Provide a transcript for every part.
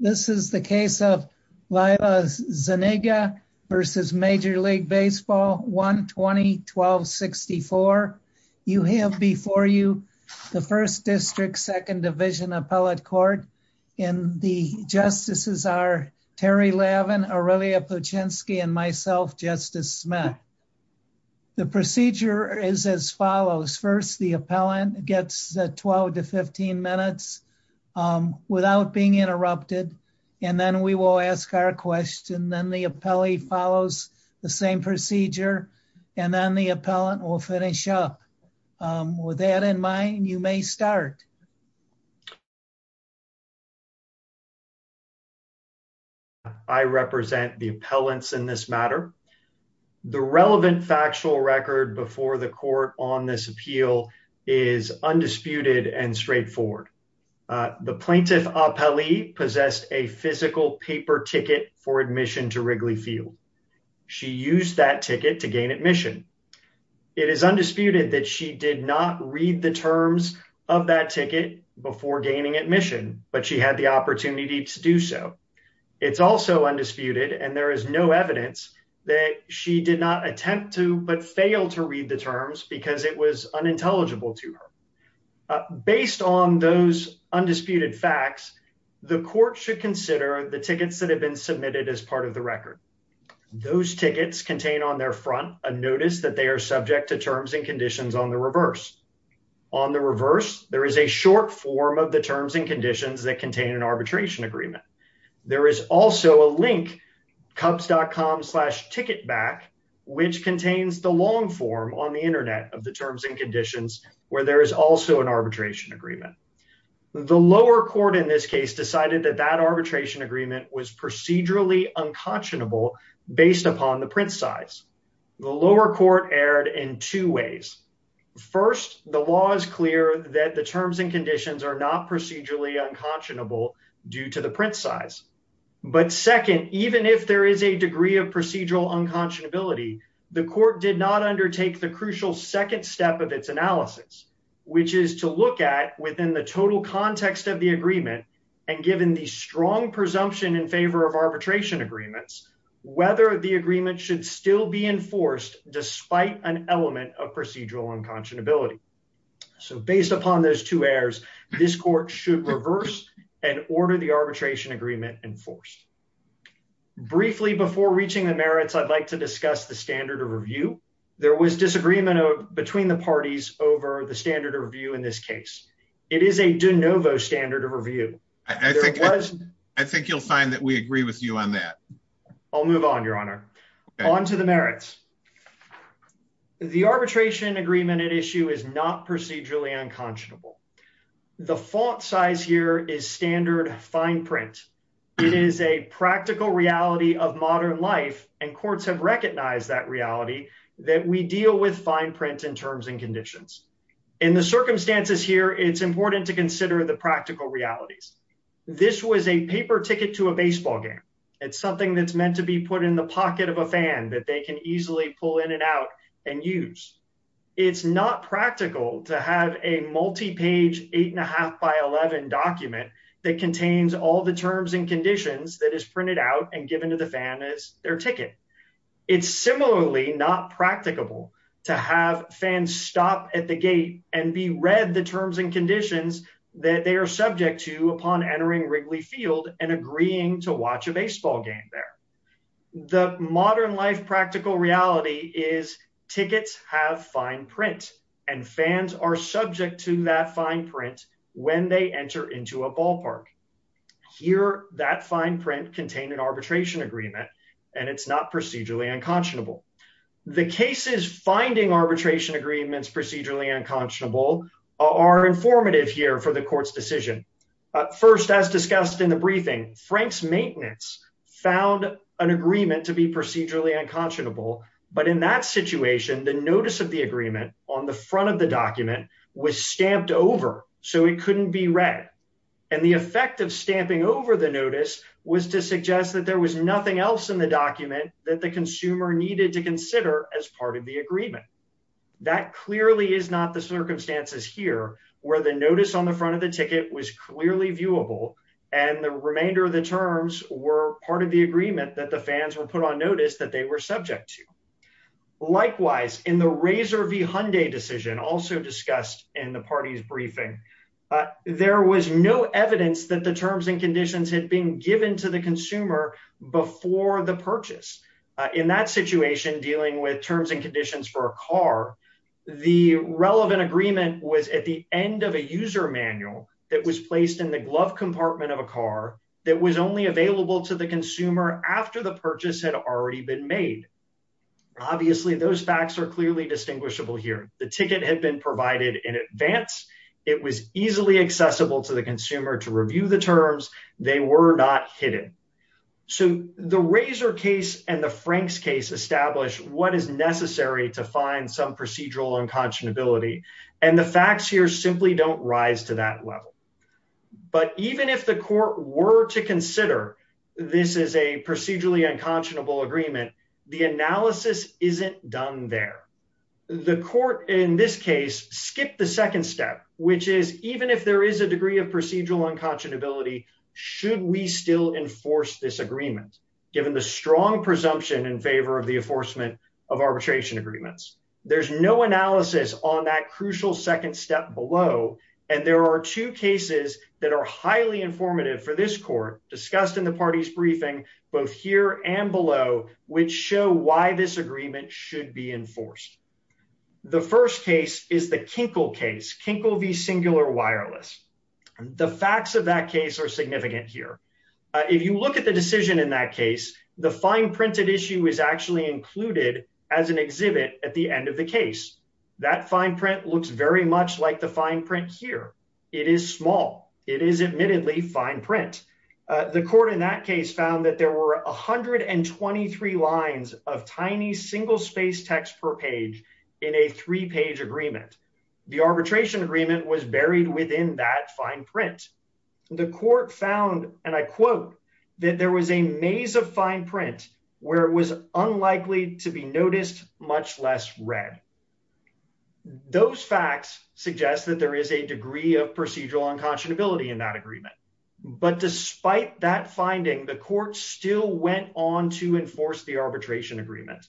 This is the case of Lila Zuniga v. Major League Baseball, 1-20-1264. You have before you the 1st District, 2nd Division Appellate Court, and the Justices are Terry Lavin, Aurelia Puczynski, and myself, Justice Smith. The procedure is as follows. First, the appellant gets 12-15 minutes without being interrupted, and then we will ask our question. Then the appellee follows the same procedure, and then the appellant will finish up. With that in mind, you may start. I represent the appellants in this matter. The relevant factual record before the court on this appeal is undisputed and straightforward. The plaintiff appellee possessed a physical paper ticket for admission to Wrigley Field. She used that ticket to gain admission. It is undisputed that she did not read the terms of that ticket before gaining admission, but she had the opportunity to do so. It's also undisputed, and there is no evidence that she did not attempt to but failed to read the terms because it was unintelligible to her. Based on those undisputed facts, the court should consider the tickets that have been submitted as part of the record. Those tickets contain on their front a notice that they are subject to terms and conditions on the reverse. On the reverse, there is a short form of the terms and conditions that contain an arbitration agreement. There is also a link, cubs.com slash ticket back, which contains the long form on the Internet of the terms and conditions where there is also an arbitration agreement. The lower court in this case decided that that arbitration agreement was procedurally unconscionable based upon the print size. The lower court erred in two ways. First, the law is clear that the terms and conditions are not procedurally unconscionable due to the print size. But second, even if there is a degree of procedural unconscionability, the court did not undertake the crucial second step of its analysis, which is to look at within the total context of the agreement and given the strong presumption in favor of arbitration agreements, whether the agreement should still be enforced despite an element of procedural unconscionability. So based upon those two errors, this court should reverse and order the arbitration agreement enforced. Briefly, before reaching the merits, I'd like to discuss the standard of review. There was disagreement between the parties over the standard of review in this case. It is a de novo standard of review. I think you'll find that we agree with you on that. I'll move on, Your Honor. On to the merits. The arbitration agreement at issue is not procedurally unconscionable. The fault size here is standard fine print. It is a practical reality of modern life, and courts have recognized that reality, that we deal with fine print in terms and conditions. In the circumstances here, it's important to consider the practical realities. This was a paper ticket to a baseball game. It's something that's meant to be put in the pocket of a fan that they can easily pull in and out and use. It's not practical to have a multi-page eight and a half by 11 document that contains all the terms and conditions that is printed out and given to the fan as their ticket. It's similarly not practicable to have fans stop at the gate and be read the terms and conditions that they are subject to upon entering Wrigley Field and agreeing to watch a baseball game there. The modern life practical reality is tickets have fine print, and fans are subject to that fine print when they enter into a ballpark. Here, that fine print contained an arbitration agreement, and it's not procedurally unconscionable. The cases finding arbitration agreements procedurally unconscionable are informative here for the court's decision. First, as discussed in the briefing, Frank's maintenance found an agreement to be procedurally unconscionable, but in that situation, the notice of the agreement on the front of the document was stamped over, so it couldn't be read, and the effect of stamping over the notice was to suggest that there was nothing else in the document that the consumer needed to consider as part of the agreement. That clearly is not the circumstances here where the notice on the front of the ticket was clearly viewable, and the remainder of the terms were part of the agreement that the fans were put on notice that they were subject to. Likewise, in the Razor v. Hyundai decision, also discussed in the party's briefing, there was no evidence that the terms and conditions had been given to the consumer before the purchase. In that situation, dealing with terms and conditions for a car, the relevant agreement was at the end of a user manual that was placed in the glove compartment of a car that was only available to the consumer after the purchase had already been made. Obviously, those facts are clearly distinguishable here. The ticket had been provided in advance. It was easily accessible to the consumer to review the terms. They were not hidden. So the Razor case and the Frank's case establish what is necessary to find some procedural unconscionability, and the facts here simply don't rise to that level. But even if the court were to consider this is a procedurally unconscionable agreement, the analysis isn't done there. The court in this case skipped the second step, which is even if there is a degree of procedural unconscionability, should we still enforce this agreement, given the strong presumption in favor of the enforcement of arbitration agreements? There's no analysis on that crucial second step below, and there are two cases that are highly informative for this court discussed in the party's briefing, both here and below, which show why this agreement should be enforced. The first case is the Kinkle case, Kinkle v. Singular Wireless. The facts of that case are significant here. If you look at the decision in that case, the fine printed issue is actually included as an exhibit at the end of the case. That fine print looks very much like the fine print here. It is small. It is admittedly fine print. The court in that case found that there were 123 lines of tiny single space text per page in a three page agreement. The arbitration agreement was buried within that fine print. The court found, and I quote, that there was a maze of fine print where it was unlikely to be noticed, much less read. Those facts suggest that there is a degree of procedural unconscionability in that agreement. But despite that finding, the court still went on to enforce the arbitration agreement.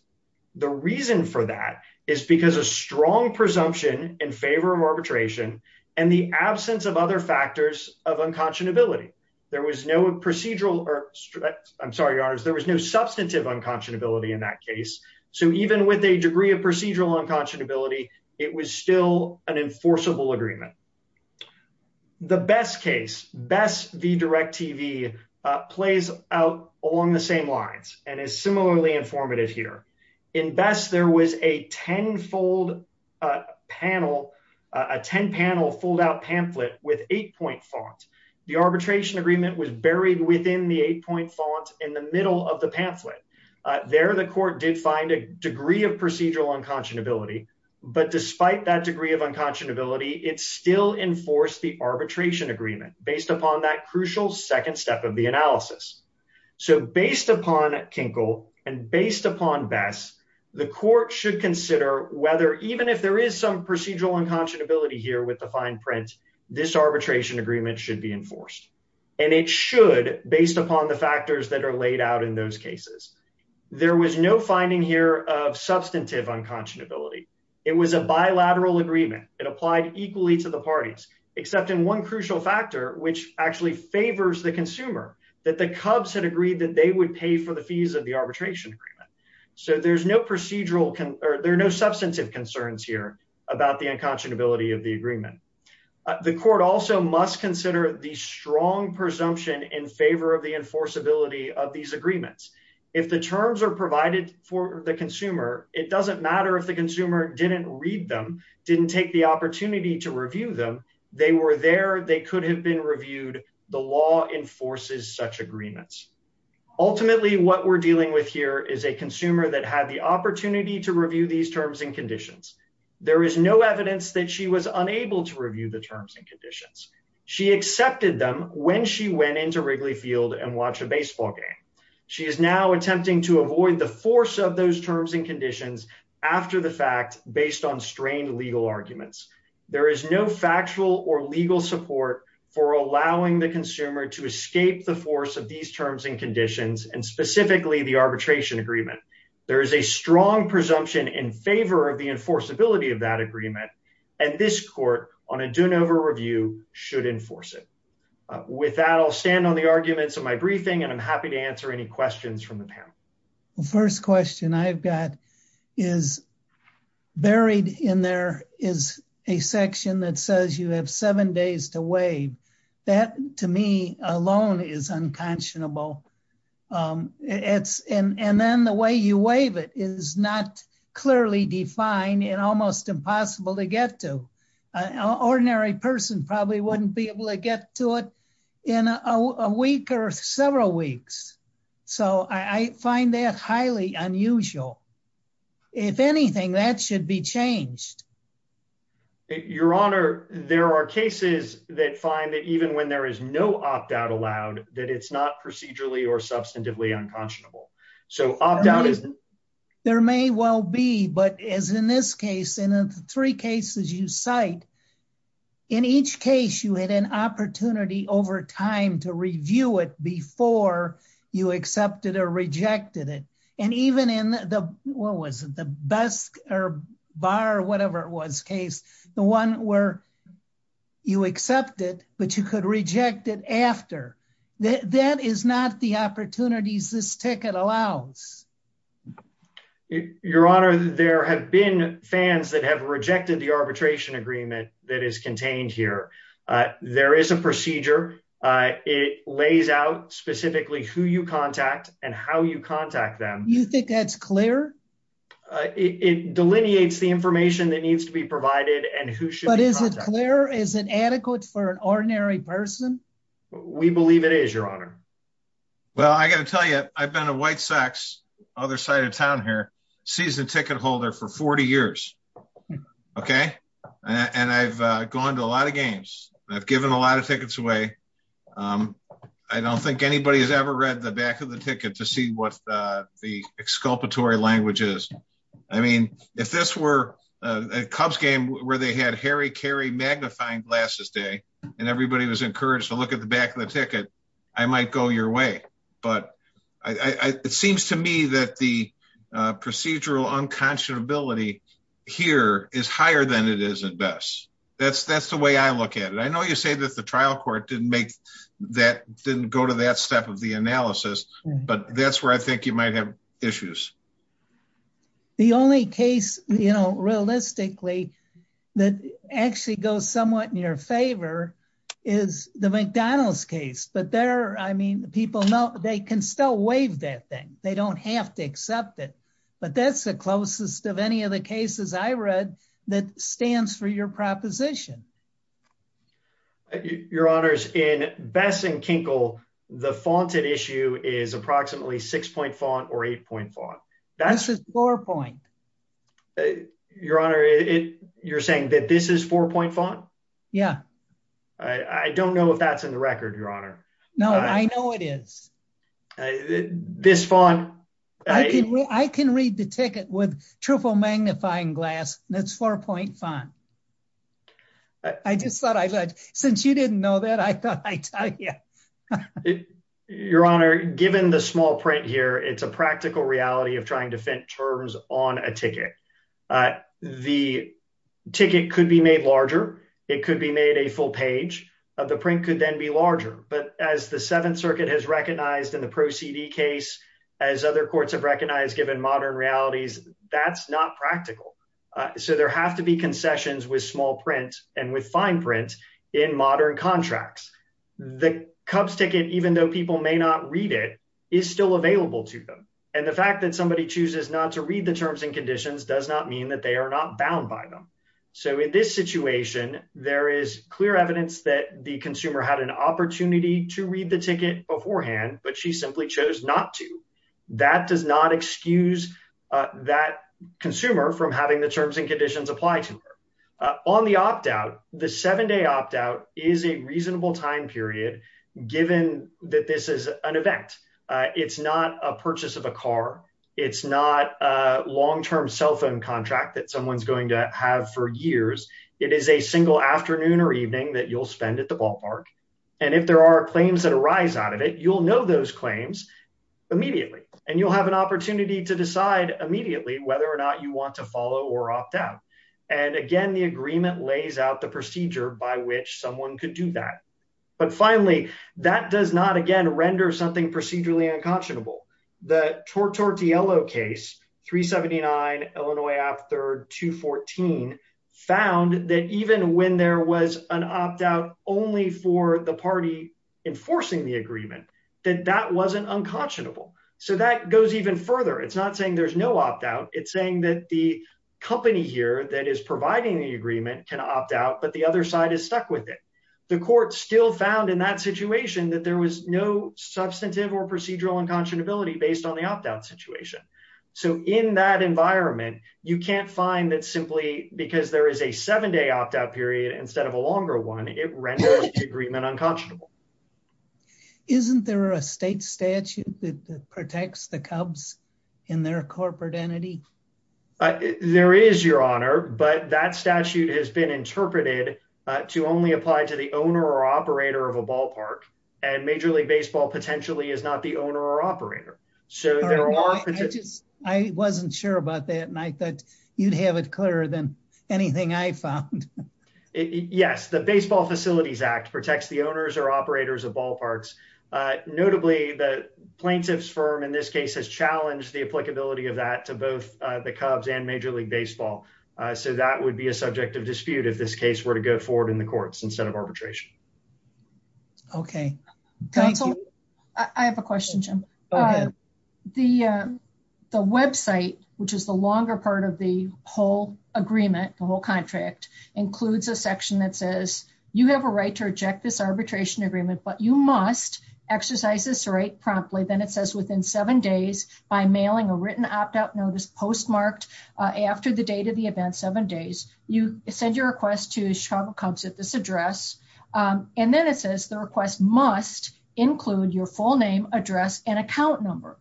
The reason for that is because a strong presumption in favor of arbitration and the absence of other factors of unconscionability. There was no procedural or I'm sorry, there was no substantive unconscionability in that case. So even with a degree of procedural unconscionability, it was still an enforceable agreement. The best case, BESS v. DIRECTV, plays out along the same lines and is similarly informative here. In BESS, there was a tenfold panel, a ten panel fold out pamphlet with eight point font. The arbitration agreement was buried within the eight point font in the middle of the pamphlet. There, the court did find a degree of procedural unconscionability. But despite that degree of unconscionability, it still enforced the arbitration agreement based upon that crucial second step of the analysis. So based upon Kinkle and based upon BESS, the court should consider whether even if there is some procedural unconscionability here with the fine print, this arbitration agreement should be enforced. And it should, based upon the factors that are laid out in those cases. There was no finding here of substantive unconscionability. It was a bilateral agreement. It applied equally to the parties, except in one crucial factor, which actually favors the consumer, that the Cubs had agreed that they would pay for the fees of the arbitration agreement. So there's no procedural or there are no substantive concerns here about the unconscionability of the agreement. The court also must consider the strong presumption in favor of the enforceability of these agreements. If the terms are provided for the consumer, it doesn't matter if the consumer didn't read them, didn't take the opportunity to review them. They were there. They could have been reviewed. The law enforces such agreements. Ultimately, what we're dealing with here is a consumer that had the opportunity to review these terms and conditions. There is no evidence that she was unable to review the terms and conditions. She accepted them when she went into Wrigley Field and watched a baseball game. She is now attempting to avoid the force of those terms and conditions after the fact, based on strained legal arguments. There is no factual or legal support for allowing the consumer to escape the force of these terms and conditions, and specifically the arbitration agreement. There is a strong presumption in favor of the enforceability of that agreement, and this court on a Doonover review should enforce it. With that, I'll stand on the arguments of my briefing, and I'm happy to answer any questions from the panel. The first question I've got is buried in there is a section that says you have seven days to waive. That, to me alone, is unconscionable. And then the way you waive it is not clearly defined and almost impossible to get to. An ordinary person probably wouldn't be able to get to it in a week or several weeks. So I find that highly unusual. If anything, that should be changed. Your Honor, there are cases that find that even when there is no opt out allowed, that it's not procedurally or substantively unconscionable. So opt out is there may well be. But as in this case, in the three cases you cite, in each case, you had an opportunity over time to review it before you accepted or rejected it. And even in the what was the best or bar or whatever it was case, the one where you accept it, but you could reject it after. That is not the opportunities this ticket allows. Your Honor, there have been fans that have rejected the arbitration agreement that is contained here. There is a procedure. It lays out specifically who you contact and how you contact them. You think that's clear? It delineates the information that needs to be provided and who should. But is it clear? Is it adequate for an ordinary person? We believe it is, Your Honor. Well, I got to tell you, I've been a white sex other side of town here, season ticket holder for 40 years. OK, and I've gone to a lot of games. I've given a lot of tickets away. I don't think anybody has ever read the back of the ticket to see what the exculpatory language is. I mean, if this were a Cubs game where they had Harry Carey magnifying glasses day and everybody was encouraged to look at the back of the ticket, I might go your way. It seems to me that the procedural unconscionability here is higher than it is at best. That's the way I look at it. I know you say that the trial court didn't go to that step of the analysis, but that's where I think you might have issues. The only case, you know, realistically that actually goes somewhat in your favor is the McDonald's case. But there, I mean, people know they can still waive that thing. They don't have to accept it. But that's the closest of any of the cases I read that stands for your proposition. Your Honors, in Bess and Kinkle, the faunted issue is approximately six point font or eight point font. This is four point. Your Honor, you're saying that this is four point font? Yeah. I don't know if that's in the record, Your Honor. No, I know it is. This font. I can read the ticket with triple magnifying glass. That's four point font. I just thought I read. Since you didn't know that, I thought I'd tell you. Your Honor, given the small print here, it's a practical reality of trying to fit terms on a ticket. The ticket could be made larger. It could be made a full page of the print could then be larger. But as the Seventh Circuit has recognized in the proceeding case, as other courts have recognized, given modern realities, that's not practical. So there have to be concessions with small print and with fine print in modern contracts. The Cubs ticket, even though people may not read it, is still available to them. And the fact that somebody chooses not to read the terms and conditions does not mean that they are not bound by them. So in this situation, there is clear evidence that the consumer had an opportunity to read the ticket beforehand, but she simply chose not to. That does not excuse that consumer from having the terms and conditions apply to her. On the opt out, the seven day opt out is a reasonable time period, given that this is an event. It's not a purchase of a car. It's not a long term cell phone contract that someone's going to have for years. It is a single afternoon or evening that you'll spend at the ballpark. And if there are claims that arise out of it, you'll know those claims immediately and you'll have an opportunity to decide immediately whether or not you want to follow or opt out. And again, the agreement lays out the procedure by which someone could do that. But finally, that does not, again, render something procedurally unconscionable. The Tortore Tielo case, 379, Illinois Act 3rd, 214, found that even when there was an opt out only for the party enforcing the agreement, that that wasn't unconscionable. So that goes even further. It's not saying there's no opt out. It's saying that the company here that is providing the agreement can opt out, but the other side is stuck with it. The court still found in that situation that there was no substantive or procedural unconscionability based on the opt out situation. So in that environment, you can't find that simply because there is a seven day opt out period instead of a longer one, it renders the agreement unconscionable. Isn't there a state statute that protects the Cubs in their corporate entity? There is, Your Honor, but that statute has been interpreted to only apply to the owner or operator of a ballpark, and Major League Baseball potentially is not the owner or operator. I wasn't sure about that, and I thought you'd have it clearer than anything I found. Yes, the Baseball Facilities Act protects the owners or operators of ballparks. Notably, the plaintiff's firm in this case has challenged the applicability of that to both the Cubs and Major League Baseball. So that would be a subjective dispute if this case were to go forward in the courts instead of arbitration. Okay. I have a question, Jim. The website, which is the longer part of the whole agreement, the whole contract, includes a section that says you have a right to reject this arbitration agreement, but you must exercise this right promptly. Then it says within seven days by mailing a written opt out notice postmarked after the date of the event, seven days, you send your request to Chicago Cubs at this address. And then it says the request must include your full name, address, and account number.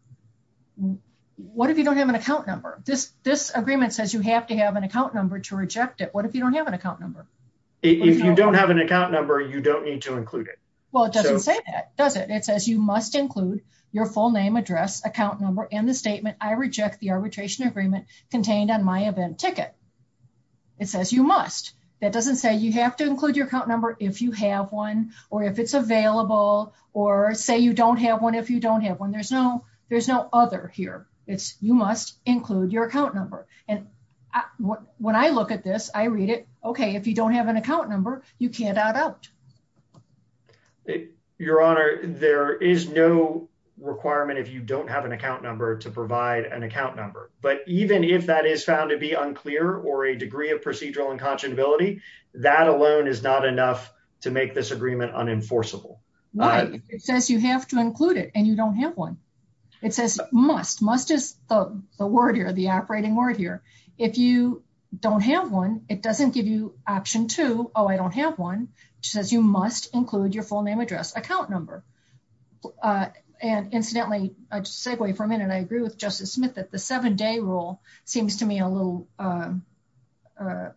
What if you don't have an account number? This agreement says you have to have an account number to reject it. What if you don't have an account number? If you don't have an account number, you don't need to include it. Well, it doesn't say that, does it? It says you must include your full name, address, account number, and the statement, I reject the arbitration agreement contained on my event ticket. It says you must. That doesn't say you have to include your account number if you have one, or if it's available, or say you don't have one if you don't have one. There's no other here. It's you must include your account number. And when I look at this, I read it, okay, if you don't have an account number, you can't opt out. Your Honor, there is no requirement if you don't have an account number to provide an account number. But even if that is found to be unclear or a degree of procedural unconscionability, that alone is not enough to make this agreement unenforceable. It says you have to include it, and you don't have one. It says must. Must is the word here, the operating word here. If you don't have one, it doesn't give you option two, oh, I don't have one. It says you must include your full name, address, account number. And incidentally, segue for a minute. I agree with Justice Smith that the seven-day rule seems to me a little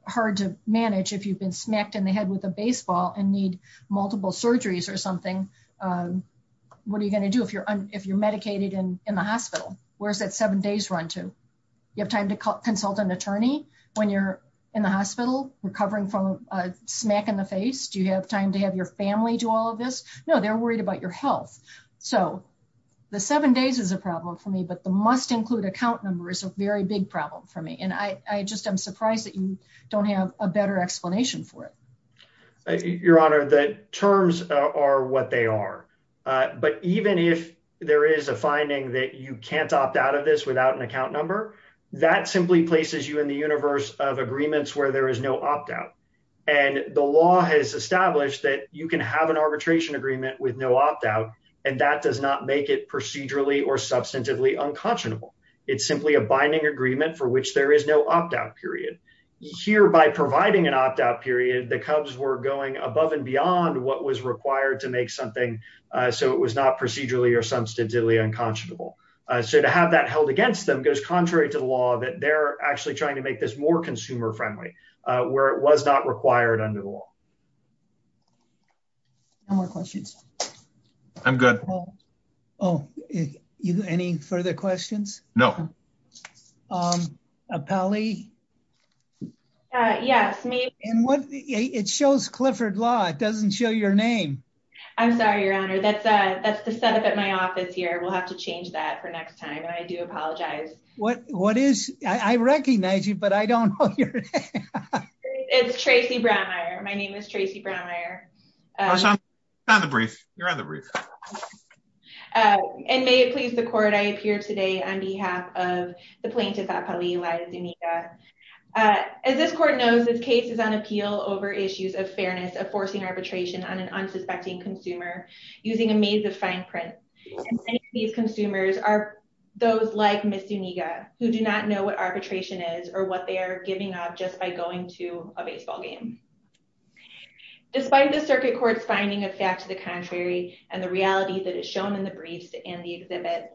hard to manage if you've been smacked in the head with a baseball and need multiple surgeries or something. What are you going to do if you're medicated in the hospital? Where's that seven days run to? You have time to consult an attorney when you're in the hospital recovering from a smack in the face? Do you have time to have your family do all of this? No, they're worried about your health. So the seven days is a problem for me, but the must include account number is a very big problem for me. And I just am surprised that you don't have a better explanation for it. Your Honor, the terms are what they are. But even if there is a finding that you can't opt out of this without an account number, that simply places you in the universe of agreements where there is no opt-out. And the law has established that you can have an arbitration agreement with no opt-out, and that does not make it procedurally or substantively unconscionable. It's simply a binding agreement for which there is no opt-out period. Here, by providing an opt-out period, the Cubs were going above and beyond what was required to make something so it was not procedurally or substantively unconscionable. So to have that held against them goes contrary to the law that they're actually trying to make this more consumer friendly, where it was not required under the law. Any more questions? I'm good. Oh, any further questions? No. Pally? Yes, me. It shows Clifford Law, it doesn't show your name. I'm sorry, Your Honor, that's the setup at my office here. We'll have to change that for next time. And I do apologize. What is, I recognize you, but I don't know your name. It's Tracy Brownmire. My name is Tracy Brownmire. You're on the brief. And may it please the court, I appear today on behalf of the plaintiff at Pally Laya Zuniga. As this court knows, this case is on appeal over issues of fairness of forcing arbitration on an unsuspecting consumer using a maze of fine print. These consumers are those like Ms. Zuniga, who do not know what arbitration is or what they are giving up just by going to a baseball game. Despite the circuit court's finding of fact to the contrary and the reality that is shown in the briefs and the exhibit,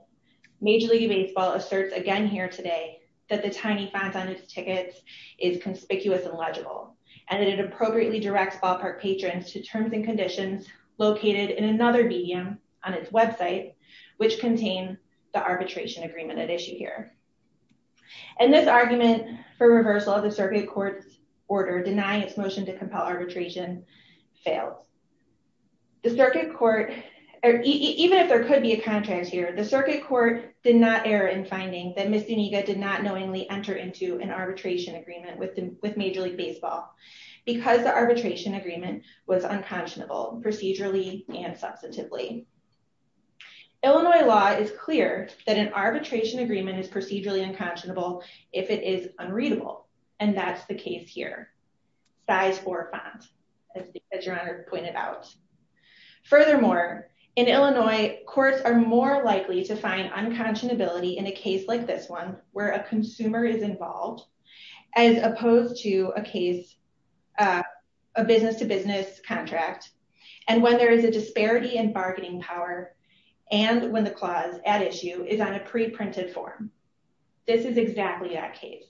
Major League Baseball asserts again here today that the tiny font on its tickets is conspicuous and legible, and that it appropriately directs ballpark patrons to terms and conditions located in another medium on its website, which contain the arbitration agreement at issue here. And this argument for reversal of the circuit court's order denying its motion to compel arbitration fails. The circuit court, even if there could be a contrast here, the circuit court did not err in finding that Ms. Zuniga did not knowingly enter into an arbitration agreement with Major League Baseball because the arbitration agreement was unconscionable procedurally and substantively. Illinois law is clear that an arbitration agreement is procedurally unconscionable if it is unreadable, and that's the case here. Size four font, as your Honor pointed out. Furthermore, in Illinois, courts are more likely to find unconscionability in a case like this one where a consumer is involved as opposed to a case, a business to business contract, and when there is a disparity in bargaining power and when the clause at issue is on a pre-printed form. This is exactly that case.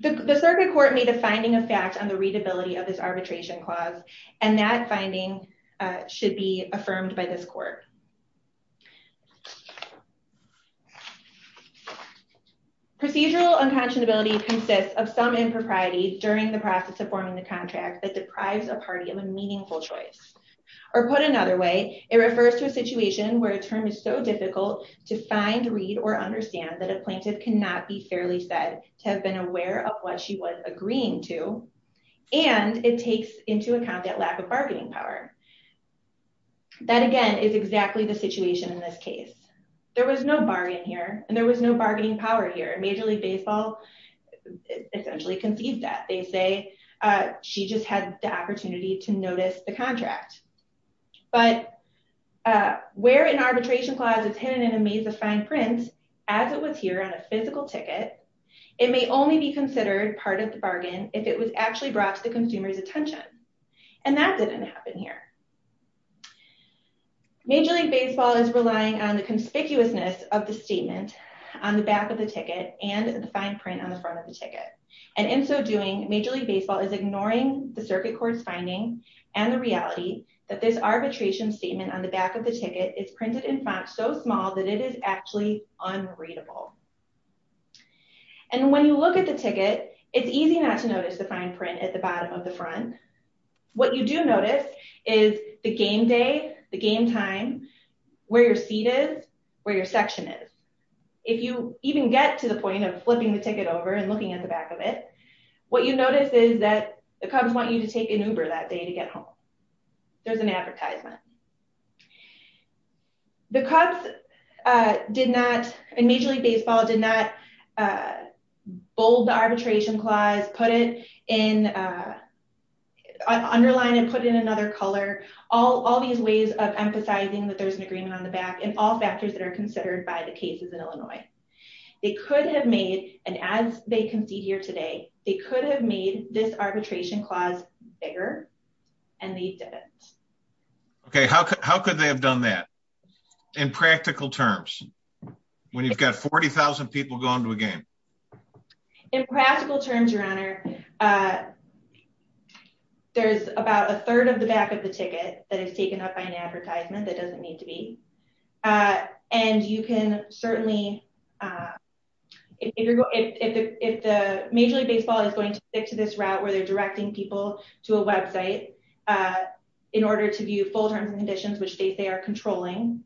The circuit court made a finding of fact on the readability of this arbitration clause, and that finding should be affirmed by this court. Procedural unconscionability consists of some impropriety during the process of forming the contract that deprives a party of a meaningful choice. Or put another way, it refers to a situation where a term is so difficult to find, read, or understand that a plaintiff cannot be fairly said to have been aware of what she was agreeing to, and it takes into account that lack of bargaining power. That, again, is exactly the situation in this case. There was no bargain here, and there was no bargaining power here. Major League Baseball essentially concedes that. They say she just had the opportunity to notice the contract. But where an arbitration clause is hidden in a Mesa fine print, as it was here on a physical ticket, it may only be considered part of the bargain if it was actually brought to the consumer's attention. And that didn't happen here. Major League Baseball is relying on the conspicuousness of the statement on the back of the ticket and the fine print on the front of the ticket. And in so doing, Major League Baseball is ignoring the circuit court's finding and the reality that this arbitration statement on the back of the ticket is printed in font so small that it is actually unreadable. And when you look at the ticket, it's easy not to notice the fine print at the bottom of the front. What you do notice is the game day, the game time, where your seat is, where your section is. If you even get to the point of flipping the ticket over and looking at the back of it, what you notice is that the Cubs want you to take an Uber that day to get home. There's an advertisement. The Cubs did not, in Major League Baseball, did not bold the arbitration clause, put it in, underline it, put it in another color. All these ways of emphasizing that there's an agreement on the back and all factors that are considered by the cases in Illinois. They could have made, and as they concede here today, they could have made this arbitration clause bigger, and they didn't. Okay, how could they have done that, in practical terms, when you've got 40,000 people going to a game? In practical terms, Your Honor, there's about a third of the back of the ticket that is taken up by an advertisement that doesn't need to be. And you can certainly, if the Major League Baseball is going to stick to this route where they're directing people to a website in order to view full terms and conditions, which they say are controlling,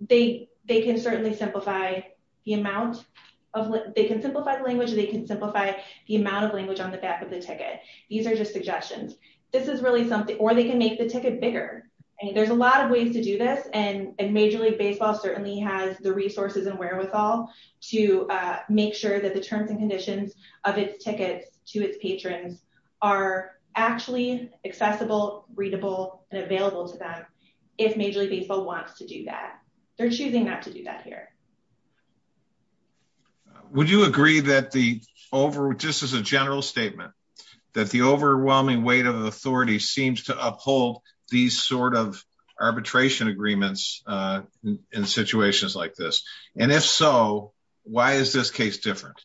they can certainly simplify the amount of, they can simplify the language, they can simplify the amount of language on the back of the ticket. These are just suggestions. This is really something, or they can make the ticket bigger. I mean, there's a lot of ways to do this, and Major League Baseball certainly has the resources and wherewithal to make sure that the terms and conditions of its tickets to its patrons are actually accessible, readable, and available to them, if Major League Baseball wants to do that. They're choosing not to do that here. Would you agree that the over, just as a general statement, that the overwhelming weight of authority seems to uphold these sort of arbitration agreements in situations like this? And if so, why is this case different?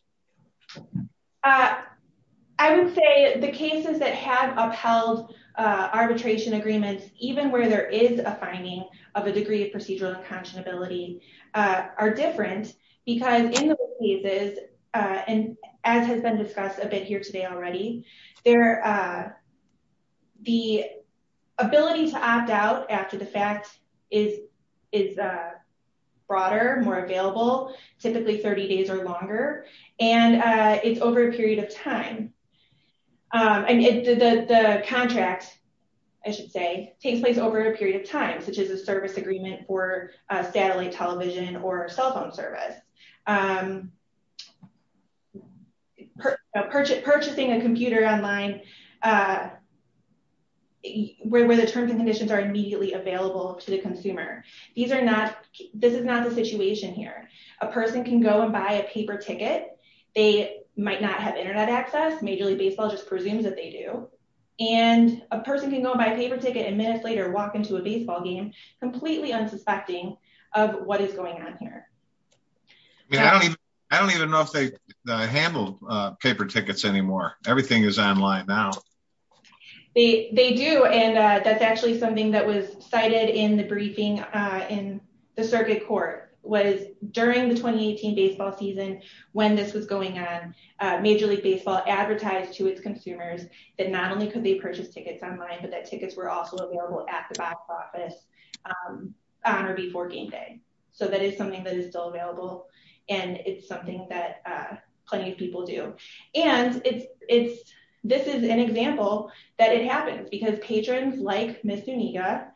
I would say the cases that have upheld arbitration agreements, even where there is a finding of a degree of procedural unconscionability, are different because in those cases, and as has been discussed a bit here today already, the ability to opt out after the fact is broader, more available, typically 30 days or longer, and it's over a period of time. The contract, I should say, takes place over a period of time, such as a service agreement for satellite television or cell phone service. Purchasing a computer online where the terms and conditions are immediately available to the consumer. This is not the situation here. A person can go and buy a paper ticket. They might not have internet access. Major League Baseball just presumes that they do. And a person can go and buy a paper ticket and minutes later walk into a baseball game, completely unsuspecting of what is going on here. I don't even know if they handle paper tickets anymore. Everything is online now. They do. And that's actually something that was cited in the briefing in the circuit court was during the 2018 baseball season when this was going on. Major League Baseball advertised to its consumers that not only could they purchase tickets online, but that tickets were also available at the box office on or before game day. So that is something that is still available. And it's something that plenty of people do. And this is an example that it happens because patrons like Miss Nuniga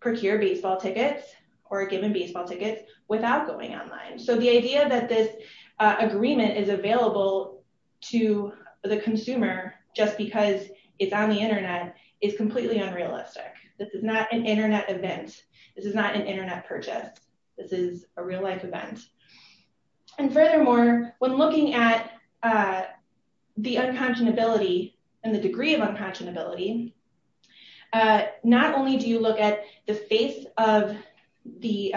procure baseball tickets or are given baseball tickets without going online. So the idea that this agreement is available to the consumer just because it's on the internet is completely unrealistic. This is not an internet event. This is not an internet purchase. This is a real life event. And furthermore, when looking at the unconscionability and the degree of unconscionability, not only do you look at the face of the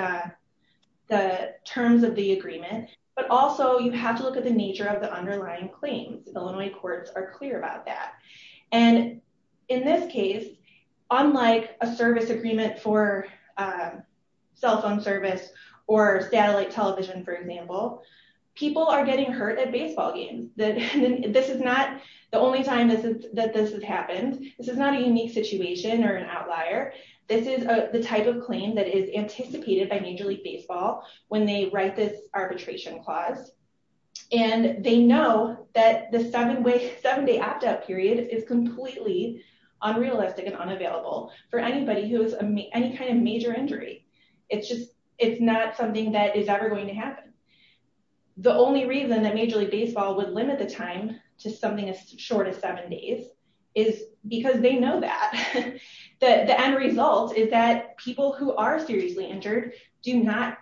terms of the agreement, but also you have to look at the nature of the underlying claims. Illinois courts are clear about that. And in this case, unlike a service agreement for cell phone service or satellite television, for example, people are getting hurt at baseball games. This is not the only time that this has happened. This is not a unique situation or an outlier. This is the type of claim that is anticipated by Major League Baseball when they write this arbitration clause. And they know that the seven-day opt-out period is completely unrealistic and unavailable for anybody who has any kind of major injury. It's not something that is ever going to happen. The only reason that Major League Baseball would limit the time to something as short as seven days is because they know that. The end result is that people who are seriously injured cannot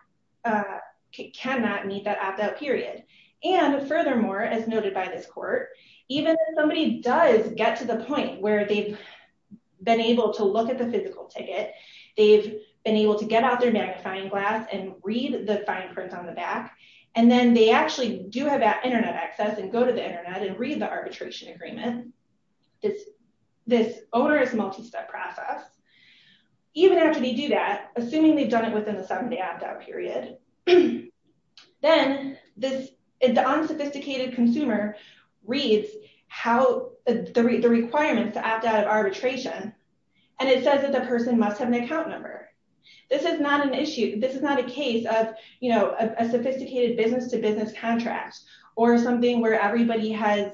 meet that opt-out period. And furthermore, as noted by this court, even if somebody does get to the point where they've been able to look at the physical ticket, they've been able to get out their magnifying glass and read the fine print on the back. And then they actually do have internet access and go to the internet and read the arbitration agreement. This is an onerous multi-step process. Even after they do that, assuming they've done it within the seven-day opt-out period, then the unsophisticated consumer reads the requirements to opt out of arbitration, and it says that the person must have an account number. This is not an issue. This is not a case of a sophisticated business-to-business contract or something where everybody has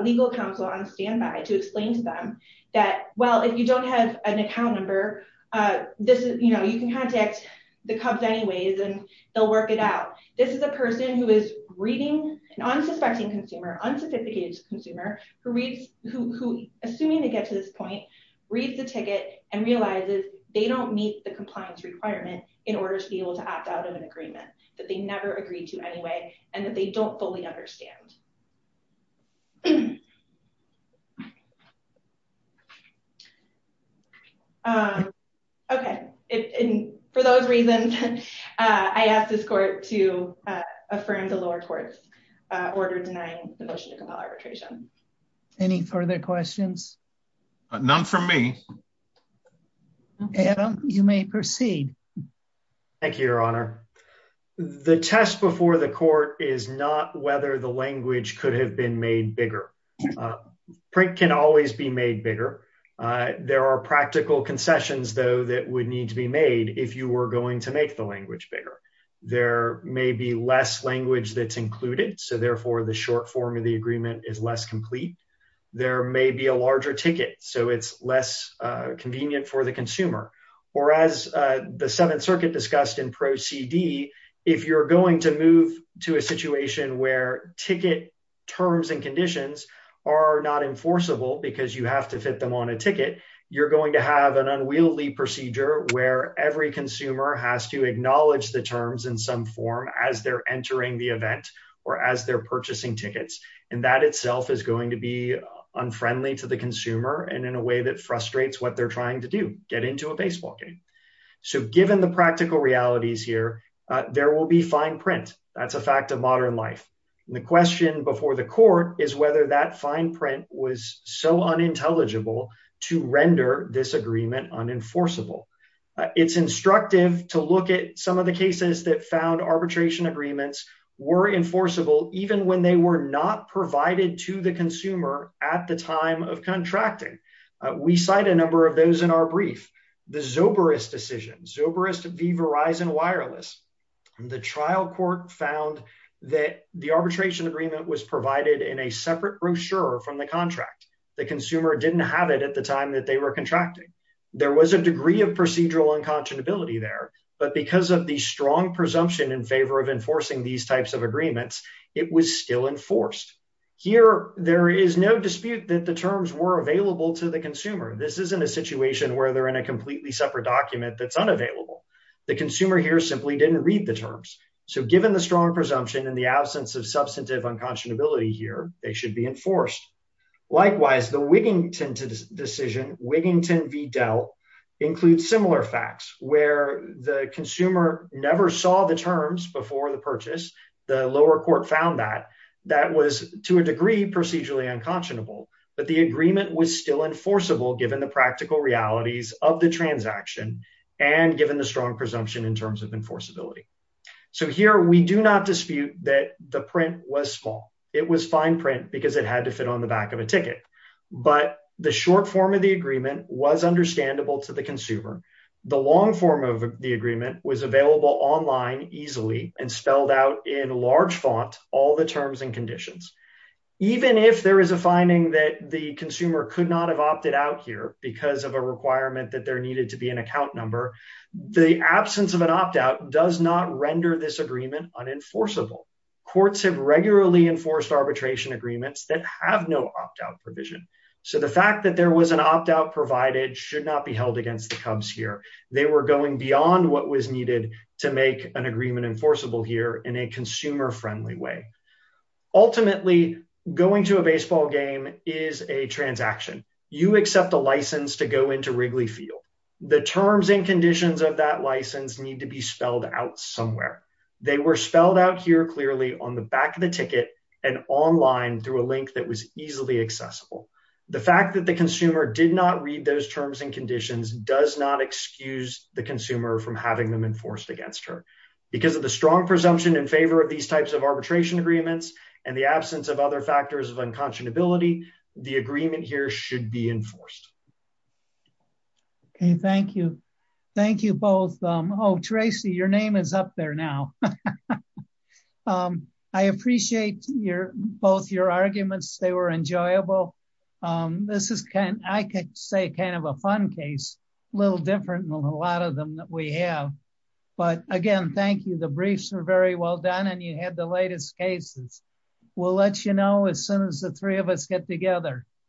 legal counsel on standby to explain to them that, well, if you don't have an account number, you can contact the Cubs anyways, and they'll work it out. This is a person who is reading an unsuspecting consumer, unsophisticated consumer, who, assuming they get to this point, reads the ticket and realizes they don't meet the compliance requirement in order to be able to opt out of an agreement that they never agreed to anyway and that they don't fully understand. Okay. And for those reasons, I ask this court to affirm the lower court's order denying the motion to compel arbitration. Any further questions? None from me. Thank you, Your Honor. The test before the court is not whether the language could have been made bigger. Print can always be made bigger. There are practical concessions, though, that would need to be made if you were going to make the language bigger. There may be less language that's included, so therefore the short form of the agreement is less complete. There may be a larger ticket, so it's less convenient for the consumer. Or as the Seventh Circuit discussed in Pro CD, if you're going to move to a situation where ticket terms and conditions are not enforceable because you have to fit them on a ticket, you're going to have an unwieldy procedure where every consumer has to acknowledge the terms in some form as they're entering the event or as they're purchasing tickets. And that itself is going to be unfriendly to the consumer and in a way that frustrates what they're trying to do, get into a baseball game. So given the practical realities here, there will be fine print. That's a fact of modern life. The question before the court is whether that fine print was so unintelligible to render this agreement unenforceable. It's instructive to look at some of the cases that found arbitration agreements were enforceable, even when they were not provided to the consumer at the time of contracting. We cite a number of those in our brief. The Zobarist decision, Zobarist v. Verizon Wireless. The trial court found that the arbitration agreement was provided in a separate brochure from the contract. The consumer didn't have it at the time that they were contracting. There was a degree of procedural unconscionability there, but because of the strong presumption in favor of enforcing these types of agreements, it was still enforced. Here, there is no dispute that the terms were available to the consumer. This isn't a situation where they're in a completely separate document that's unavailable. The consumer here simply didn't read the terms. So given the strong presumption and the absence of substantive unconscionability here, they should be enforced. Likewise, the Wigington decision, Wigington v. Dell, includes similar facts where the consumer never saw the terms before the purchase. The lower court found that. That was, to a degree, procedurally unconscionable. But the agreement was still enforceable given the practical realities of the transaction and given the strong presumption in terms of enforceability. So here, we do not dispute that the print was small. It was fine print because it had to fit on the back of a ticket. But the short form of the agreement was understandable to the consumer. The long form of the agreement was available online easily and spelled out in large font all the terms and conditions. Even if there is a finding that the consumer could not have opted out here because of a requirement that there needed to be an account number, the absence of an opt-out does not render this agreement unenforceable. Courts have regularly enforced arbitration agreements that have no opt-out provision. So the fact that there was an opt-out provided should not be held against the Cubs here. They were going beyond what was needed to make an agreement enforceable here in a consumer-friendly way. Ultimately, going to a baseball game is a transaction. You accept a license to go into Wrigley Field. The terms and conditions of that license need to be spelled out somewhere. They were spelled out here clearly on the back of the ticket and online through a link that was easily accessible. The fact that the consumer did not read those terms and conditions does not excuse the consumer from having them enforced against her. Because of the strong presumption in favor of these types of arbitration agreements and the absence of other factors of unconscionability, the agreement here should be enforced. Okay, thank you. Thank you both. Oh, Tracy, your name is up there now. I appreciate both your arguments. They were enjoyable. This is, I could say, kind of a fun case, a little different than a lot of them that we have. But again, thank you. The briefs are very well done and you had the latest cases. We'll let you know as soon as the three of us get together.